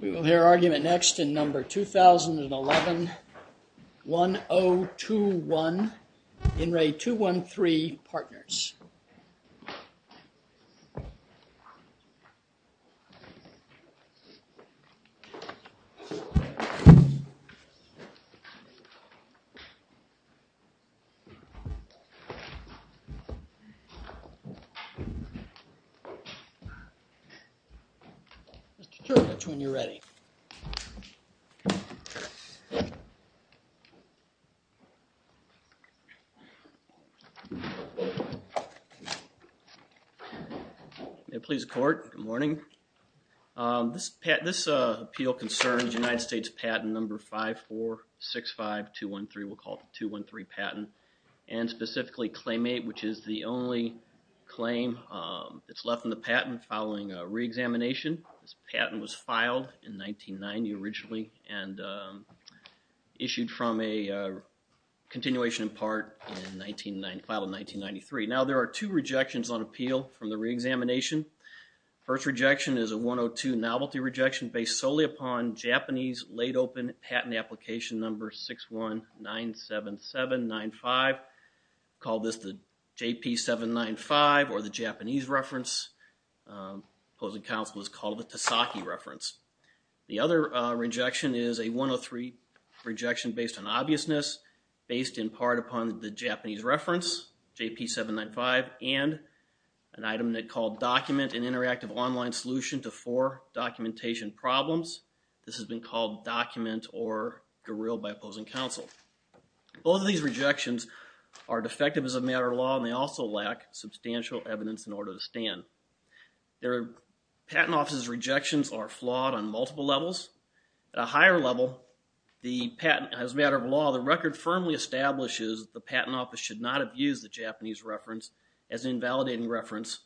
We will hear argument next in number 2011-1021, ENRE 213 PARTNERS. Mr. Kirk, that's when you're ready. May it please the court, good morning. This appeal concerns United States patent number 5465213, we'll call it the 213 patent, and specifically Claim 8, which is the only claim that's left in the patent following a re-examination. This patent was filed in 1990 originally and issued from a continuation in part filed in 1993. Now there are two rejections on appeal from the re-examination. The first rejection is a 102 novelty rejection based solely upon Japanese laid open patent application number 6197795. We call this the JP795 or the Japanese reference. The opposing counsel has called it the Tasaki reference. The other rejection is a 103 rejection based on obviousness based in part upon the Japanese reference, JP795, and an item called document and interactive online solution to four documentation problems. This has been called document or guerrilla by opposing counsel. Both of these rejections are defective as a matter of law and they also lack substantial evidence in order to stand. The patent office's rejections are flawed on multiple levels. At a higher level, as a matter of law, the record firmly establishes the patent office should not have used the Japanese reference as an invalidating reference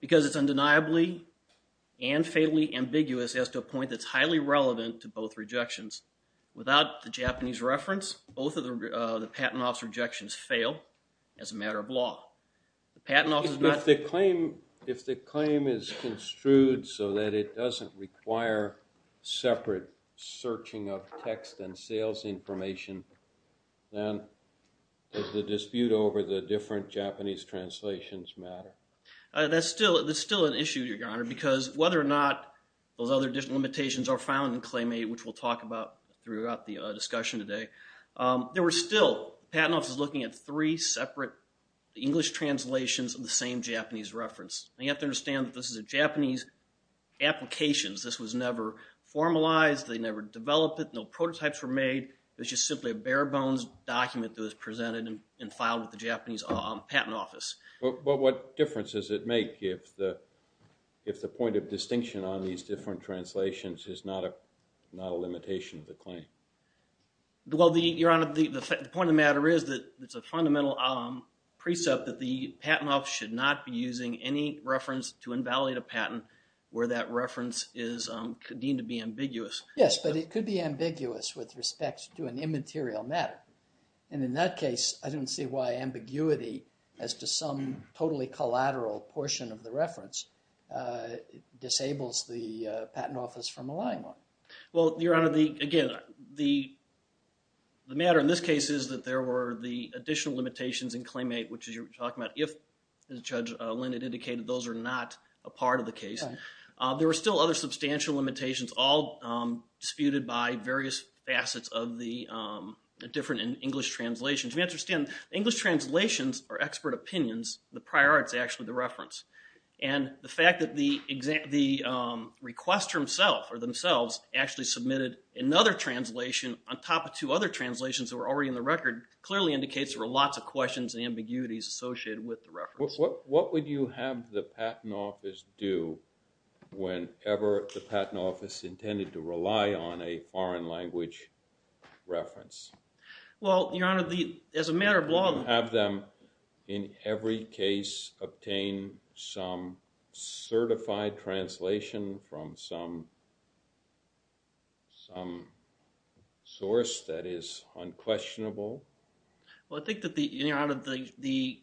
because it's undeniably and fatally ambiguous as to a point that's highly relevant to both rejections. Without the Japanese reference, both of the patent office rejections fail as a matter of law. If the claim is construed so that it doesn't require separate searching of text and sales information, then does the dispute over the different Japanese translations matter? That's still an issue, your honor, because whether or not those other different limitations are found in claim 8, which we'll talk about throughout the discussion today, there were still, the patent office was looking at three separate English translations of the same Japanese reference. You have to understand that this is a Japanese application. This was never formalized, they never developed it, no prototypes were made. It was just simply a bare bones document that was presented and filed with the Japanese patent office. But what difference does it make if the point of distinction on these different translations is not a limitation of the claim? Well, your honor, the point of the matter is that it's a fundamental precept that the patent office should not be using any reference to invalidate a patent where that reference is deemed to be ambiguous. Yes, but it could be ambiguous with respect to an immaterial matter. And in that case, I don't see why ambiguity as to some totally collateral portion of the reference Well, your honor, again, the matter in this case is that there were the additional limitations in claim 8, which you're talking about if, as Judge Linn had indicated, those are not a part of the case. There were still other substantial limitations, all disputed by various facets of the different English translations. We understand English translations are expert opinions, the prior art is actually the reference. And the fact that the requester himself or themselves actually submitted another translation on top of two other translations that were already in the record clearly indicates there were lots of questions and ambiguities associated with the reference. What would you have the patent office do whenever the patent office intended to rely on a foreign language reference? Well, your honor, as a matter of law... Have them, in every case, obtain some certified translation from some source that is unquestionable? Well, I think that the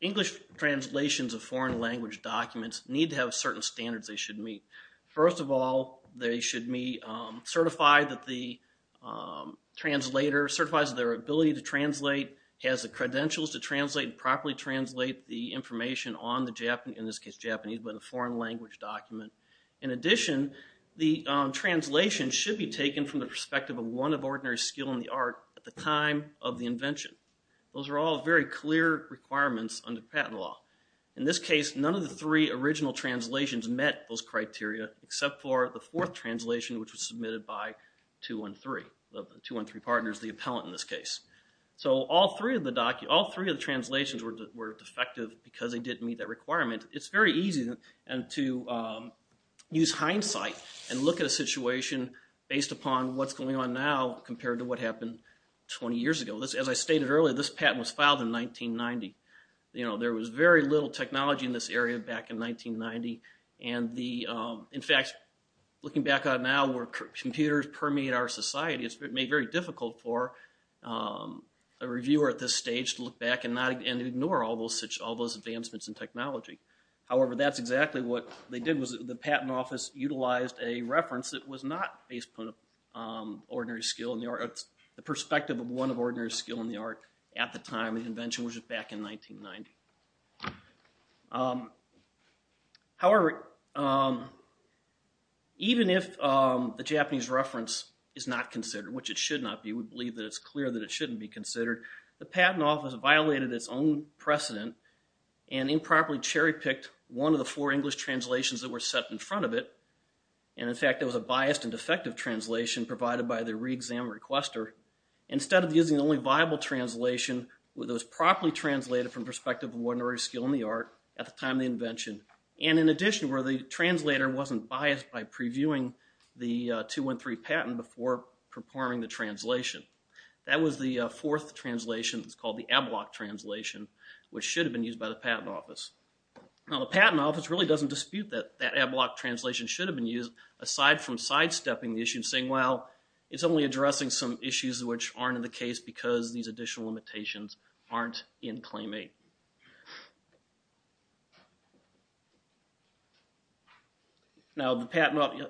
English translations of foreign language documents need to have certain standards they should meet. First of all, they should be certified that the translator certifies their ability to translate, has the credentials to translate and properly translate the information on the, in this case, Japanese, but a foreign language document. In addition, the translation should be taken from the perspective of one of ordinary skill in the art at the time of the invention. Those are all very clear requirements under patent law. In this case, none of the three original translations met those criteria, except for the fourth translation, which was submitted by 213. The 213 partner is the appellant in this case. So all three of the translations were defective because they didn't meet that requirement. It's very easy to use hindsight and look at a situation based upon what's going on now compared to what happened 20 years ago. As I stated earlier, this patent was filed in 1990. There was very little technology in this area back in 1990. In fact, looking back on it now where computers permeate our society, it's made very difficult for a reviewer at this stage to look back and ignore all those advancements in technology. However, that's exactly what they did was the patent office utilized a reference that was not based upon ordinary skill in the art. It's the perspective of one of ordinary skill in the art at the time of the invention, which was back in 1990. However, even if the Japanese reference is not considered, which it should not be, we believe that it's clear that it shouldn't be considered, the patent office violated its own precedent and improperly cherry-picked one of the four English translations that were set in front of it. In fact, it was a biased and defective translation provided by the re-exam requester instead of using the only viable translation that was properly translated from the perspective of ordinary skill in the art at the time of the invention. In addition, the translator wasn't biased by previewing the 213 patent before performing the translation. That was the fourth translation. It's called the Ablock translation, which should have been used by the patent office. Now, the patent office really doesn't dispute that that Ablock translation should have been used, aside from sidestepping the issue and saying, well, it's only addressing some issues which aren't in the case because these additional limitations aren't in Claim 8. Now, the patent office...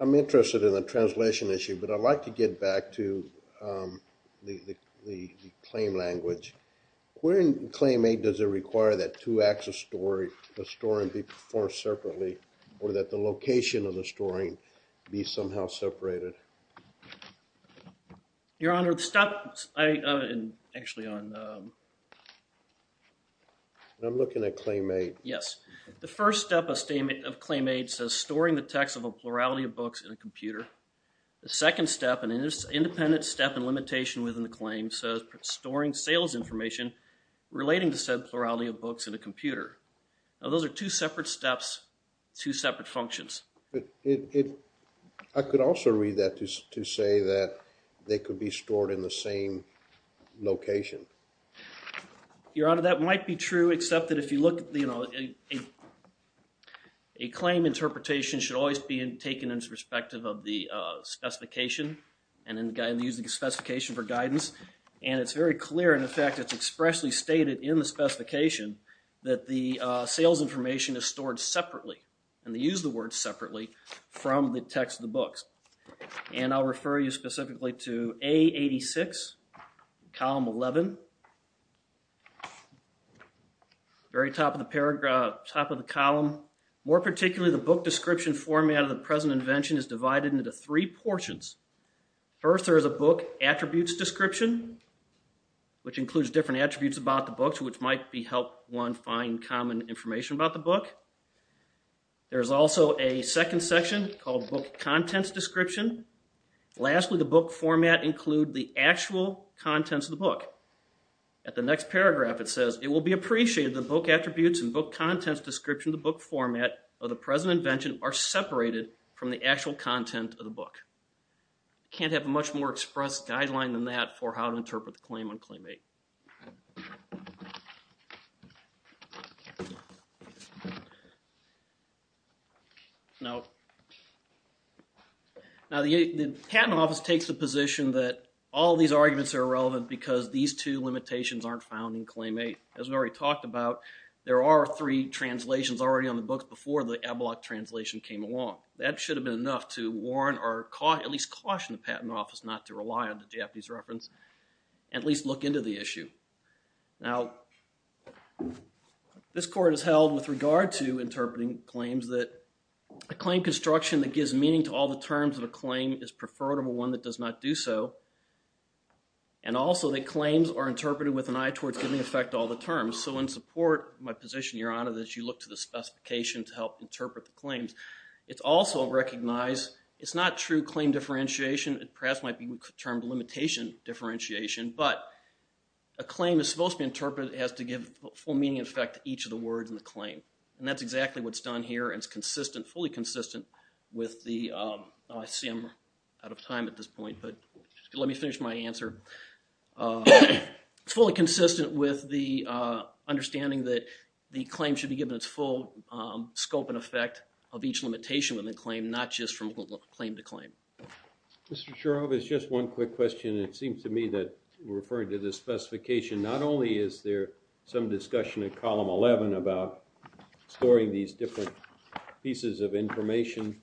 I'm interested in the translation issue, but I'd like to get back to the claim language. Where in Claim 8 does it require that two acts of storing be performed separately or that the location of the storing be somehow separated? I'm looking at Claim 8. Yes. The first step of Claim 8 says storing the text of a plurality of books in a computer. The second step, an independent step and limitation within the claim, says storing sales information relating to said plurality of books in a computer. Now, those are two separate steps, two separate functions. I could also read that to say that they could be stored in the same location. Your Honor, that might be true, except that if you look at the... A claim interpretation should always be taken into perspective of the specification and using the specification for guidance. And it's very clear, and, in fact, it's expressly stated in the specification that the sales information is stored separately, and they use the word separately, from the text of the books. And I'll refer you specifically to A86, Column 11. Very top of the column. More particularly, the book description format of the present invention is divided into three portions. First, there is a book attributes description, which includes different attributes about the books, which might help one find common information about the book. There is also a second section called book contents description. Lastly, the book format includes the actual contents of the book. At the next paragraph, it says, it will be appreciated that book attributes and book contents description of the book format of the present invention are separated from the actual content of the book. Can't have a much more expressed guideline than that for how to interpret the claim on Claim 8. Now, the Patent Office takes the position that all these arguments are irrelevant because these two limitations aren't found in Claim 8. As we already talked about, there are three translations already on the books before the Ablock translation came along. That should have been enough to warn or at least caution the Patent Office not to rely on the Japanese reference and at least look into the issue. Now, this Court has held with regard to interpreting claims that a claim construction that gives meaning to all the terms of a claim is preferable to one that does not do so and also that claims are interpreted with an eye towards giving effect to all the terms. So in support of my position, Your Honor, that you look to the specification to help interpret the claims, it's also recognized it's not true claim differentiation and perhaps might be termed limitation differentiation, but a claim is supposed to be interpreted as to give full meaning and effect to each of the words in the claim, and that's exactly what's done here and it's consistent, fully consistent with the— I see I'm out of time at this point, but let me finish my answer. It's fully consistent with the understanding that the claim should be given its full scope and effect of each limitation within the claim, not just from claim to claim. Mr. Shurov, it's just one quick question. It seems to me that referring to the specification, not only is there some discussion in Column 11 about storing these different pieces of information,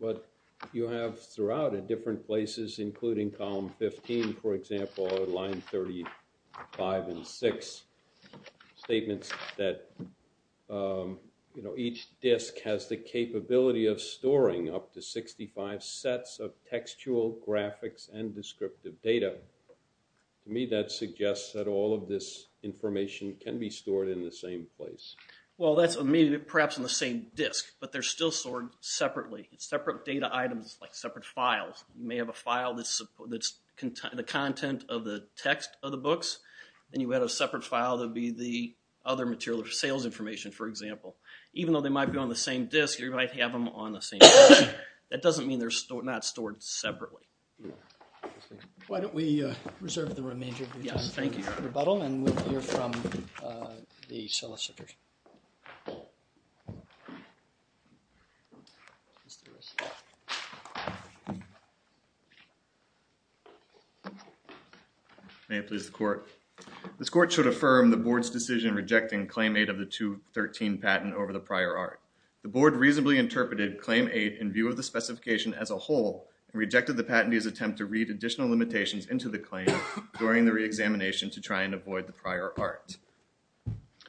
but you have throughout at different places, including Column 15, for example, or Line 35 and 6 statements that, you know, each disk has the capability of storing up to 65 sets of textual, graphics, and descriptive data. To me, that suggests that all of this information can be stored in the same place. Well, that's maybe perhaps in the same disk, but they're still stored separately. It's separate data items, like separate files. You may have a file that's the content of the text of the books, and you have a separate file that would be the other material, the sales information, for example. Even though they might be on the same disk, you might have them on the same disk. That doesn't mean they're not stored separately. Why don't we reserve the remainder of your time for rebuttal, and we'll hear from the solicitors. May it please the Court. This Court should affirm the Board's decision rejecting Claim 8 of the 213 patent over the prior art. The Board reasonably interpreted Claim 8 in view of the specification as a whole and rejected the patentee's attempt to read additional limitations into the claim during the reexamination to try and avoid the prior art.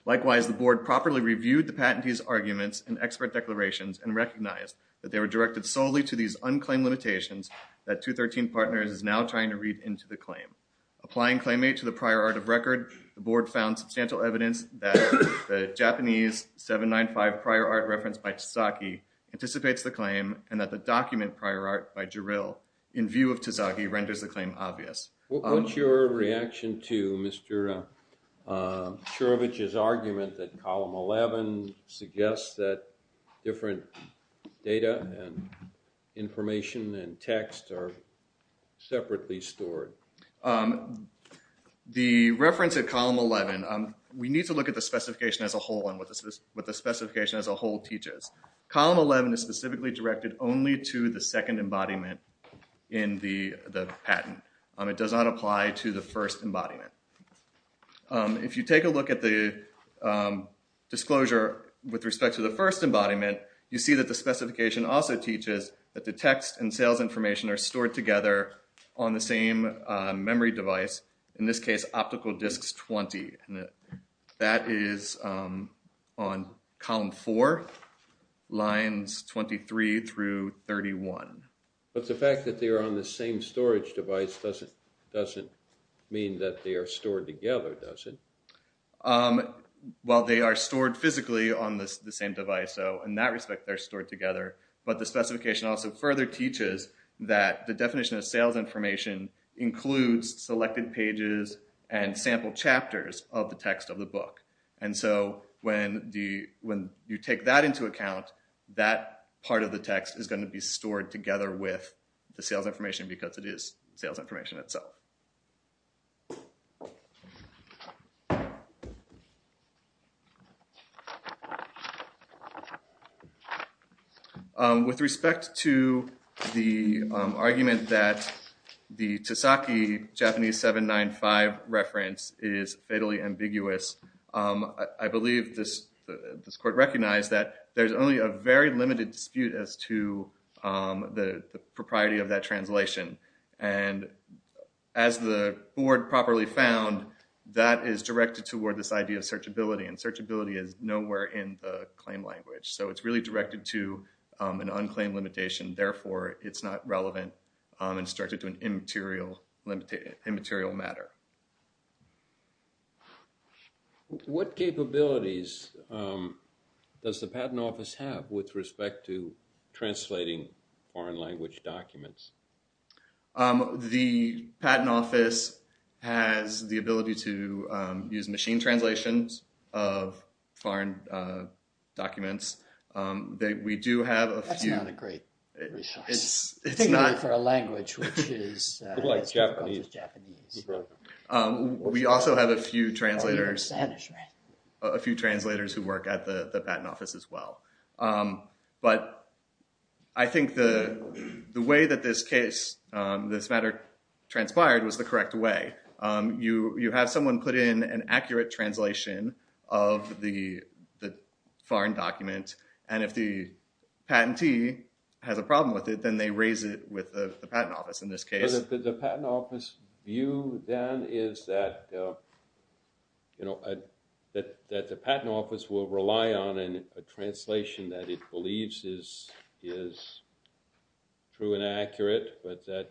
Likewise, the Board properly reviewed the patentee's arguments and expert declarations and recognized that they were directed solely to these Applying Claim 8 to the prior art of record, the Board found substantial evidence that the Japanese 795 prior art referenced by Tazaki anticipates the claim and that the document prior art by Jarrell, in view of Tazaki, renders the claim obvious. What's your reaction to Mr. Shurovich's argument that Column 11 suggests that different data and information and text are separately stored? The reference at Column 11, we need to look at the specification as a whole and what the specification as a whole teaches. Column 11 is specifically directed only to the second embodiment in the patent. It does not apply to the first embodiment. If you take a look at the disclosure with respect to the first embodiment, you see that the specification also teaches that the text and sales information are stored together on the same memory device, in this case optical disks 20. That is on Column 4, lines 23 through 31. But the fact that they are on the same storage device doesn't mean that they are stored together, does it? Well, they are stored physically on the same device, so in that respect they're stored together. But the specification also further teaches that the definition of sales information includes selected pages and sample chapters of the text of the book. And so when you take that into account, that part of the text is going to be the information itself. With respect to the argument that the Tosaki Japanese 795 reference is fatally ambiguous, I believe this court recognized that there's only a very limited dispute as to the propriety of that translation. And as the board properly found, that is directed toward this idea of searchability, and searchability is nowhere in the claim language. So it's really directed to an unclaimed limitation, therefore it's not relevant and it's directed to an immaterial matter. What capabilities does the Patent Office have with respect to The Patent Office has the ability to use machine translations of foreign documents. We do have a few... That's not a great resource, particularly for a language which is Japanese. We also have a few translators who work at the Patent Office as well. But I think the way that this matter transpired was the correct way. You have someone put in an accurate translation of the foreign document, and if the patentee has a problem with it, then they raise it with the Patent Office in this case. The Patent Office view then is that the Patent Office will rely on a translation that it believes is true and accurate, but that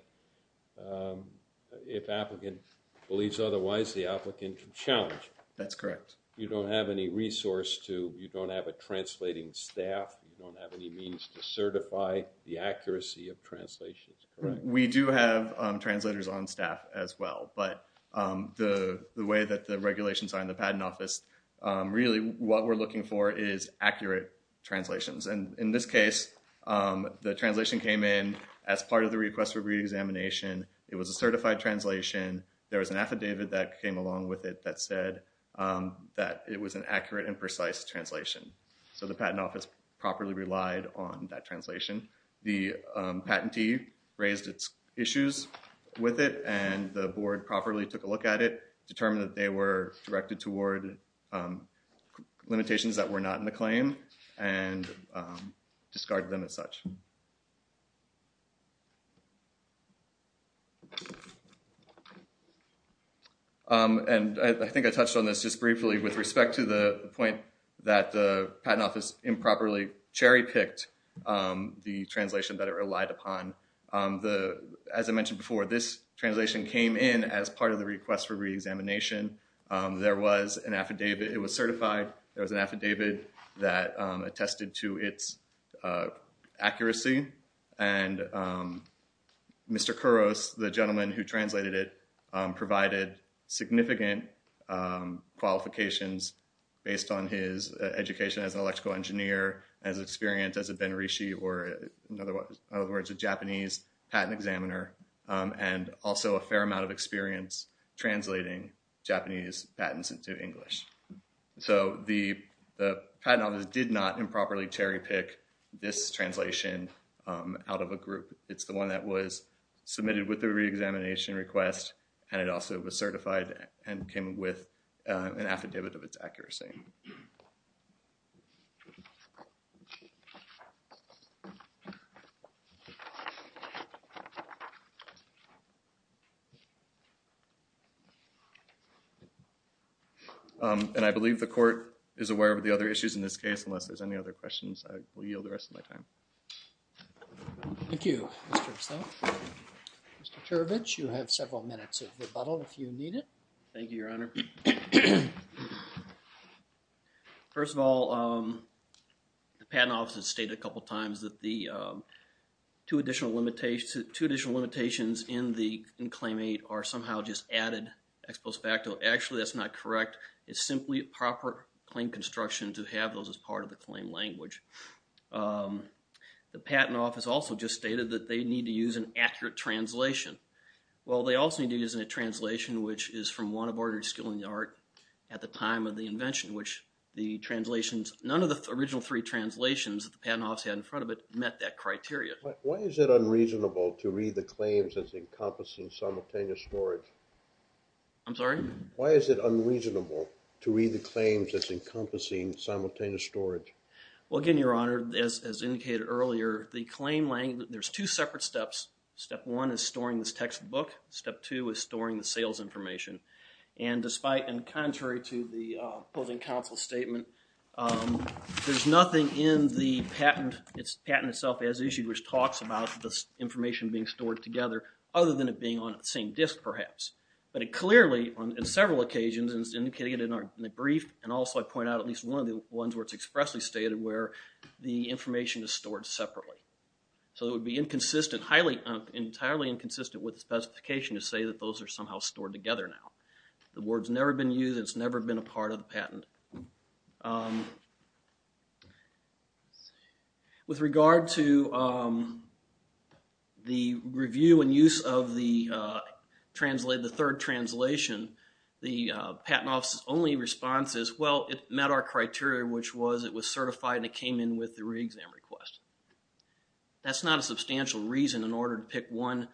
if the applicant believes otherwise, the applicant can challenge it. That's correct. You don't have any resource to, you don't have a translating staff, you don't have any means to certify the accuracy of translations. We do have translators on staff as well, but the way that the regulations are in the Patent Office, really what we're looking for is accurate translations. In this case, the translation came in as part of the request for re-examination. It was a certified translation. There was an affidavit that came along with it that said that it was an accurate and precise translation. So the Patent Office properly relied on that translation. The patentee raised its issues with it, and the board properly took a look at it, determined that they were directed toward limitations that were not in the claim, and discarded them as such. I think I touched on this just briefly with respect to the point that the Patent Office improperly cherry-picked the translation that it relied upon. As I mentioned before, this translation came in as part of the request for re-examination. There was an affidavit. It was certified. There was an affidavit that attested to its accuracy, and Mr. Kuros, the gentleman who translated it, provided significant qualifications based on his education as an electrical engineer, as experienced as a Ben Rishi or, in other words, a Japanese patent examiner, and also a fair amount of experience translating Japanese patents into English. So the Patent Office did not improperly cherry-pick this translation out of a group. It's the one that was submitted with the re-examination request, and it also was certified and came with an affidavit of its accuracy. And I believe the Court is aware of the other issues in this case. Unless there's any other questions, I will yield the rest of my time. Thank you. Thank you, Mr. Stout. Mr. Turbidge, you have several minutes of rebuttal if you need it. Thank you, Your Honor. First of all, the Patent Office has stated a couple times that the two additional limitations in Claim 8 are somehow just added ex post facto. Actually, that's not correct. It's simply proper claim construction to have those as part of the claim language. The Patent Office also just stated that they need to use an accurate translation. Well, they also need to use a translation which is from one of Ordered Skill in the Art at the time of the invention, which the translations, none of the original three translations that the Patent Office had in front of it met that criteria. Why is it unreasonable to read the claims as encompassing simultaneous storage? I'm sorry? Why is it unreasonable to read the claims as encompassing simultaneous storage? Well, again, Your Honor, as indicated earlier, the claim language, there's two separate steps. Step one is storing this textbook. Step two is storing the sales information. And despite and contrary to the opposing counsel's statement, there's nothing in the patent itself as issued which talks about this information being stored together other than it being on the same disk perhaps. But it clearly, on several occasions, and it's indicated in the brief, and also I point out at least one of the ones where it's expressly stated where the information is stored separately. So it would be entirely inconsistent with the specification to say that those are somehow stored together now. The word's never been used. It's never been a part of the patent. With regard to the review and use of the third translation, the Patent Office's only response is, well, it met our criteria, which was it was certified and it came in with the re-exam request. That's not a substantial reason in order to pick one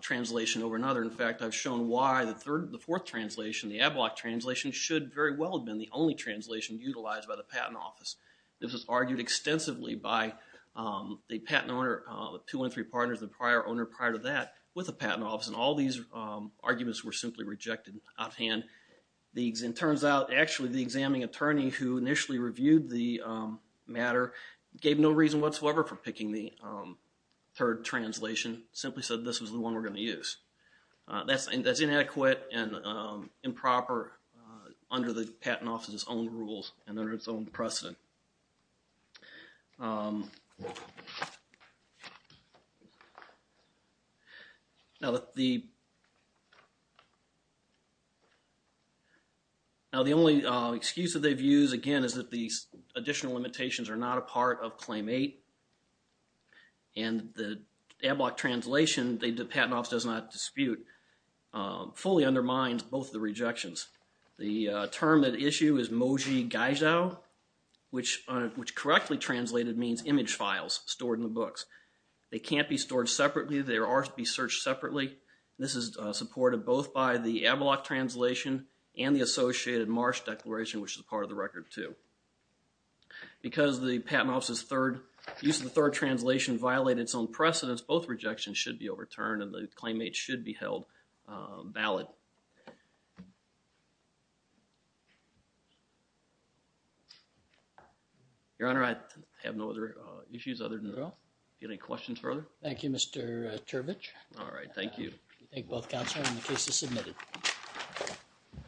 translation over another. In fact, I've shown why the fourth translation, the AdBlock translation, should very well have been the only translation utilized by the Patent Office. This was argued extensively by the patent owner, the two and three partners, the prior owner prior to that with the Patent Office, and all these arguments were simply rejected out of hand. It turns out, actually, the examining attorney who initially reviewed the matter gave no reason whatsoever for picking the third translation, simply said this was the one we're going to use. That's inadequate and improper under the Patent Office's own rules and under its own precedent. Now, the only excuse that they've used, again, is that the additional limitations are not a part of Claim 8, and the AdBlock translation the Patent Office does not dispute fully undermines both the rejections. The term at issue is moji gaijou, which correctly translated means image files stored in the books. They can't be stored separately. They are to be searched separately. This is supported both by the AdBlock translation and the associated Marsh Declaration, which is part of the record, too. Because the Patent Office's use of the third translation violated its own precedence, both rejections should be overturned and the Claim 8 should be held valid. Thank you. Your Honor, I have no other issues other than that. Do you have any questions further? Thank you, Mr. Turbidge. All right, thank you. Thank you both, Counselor, and the case is submitted.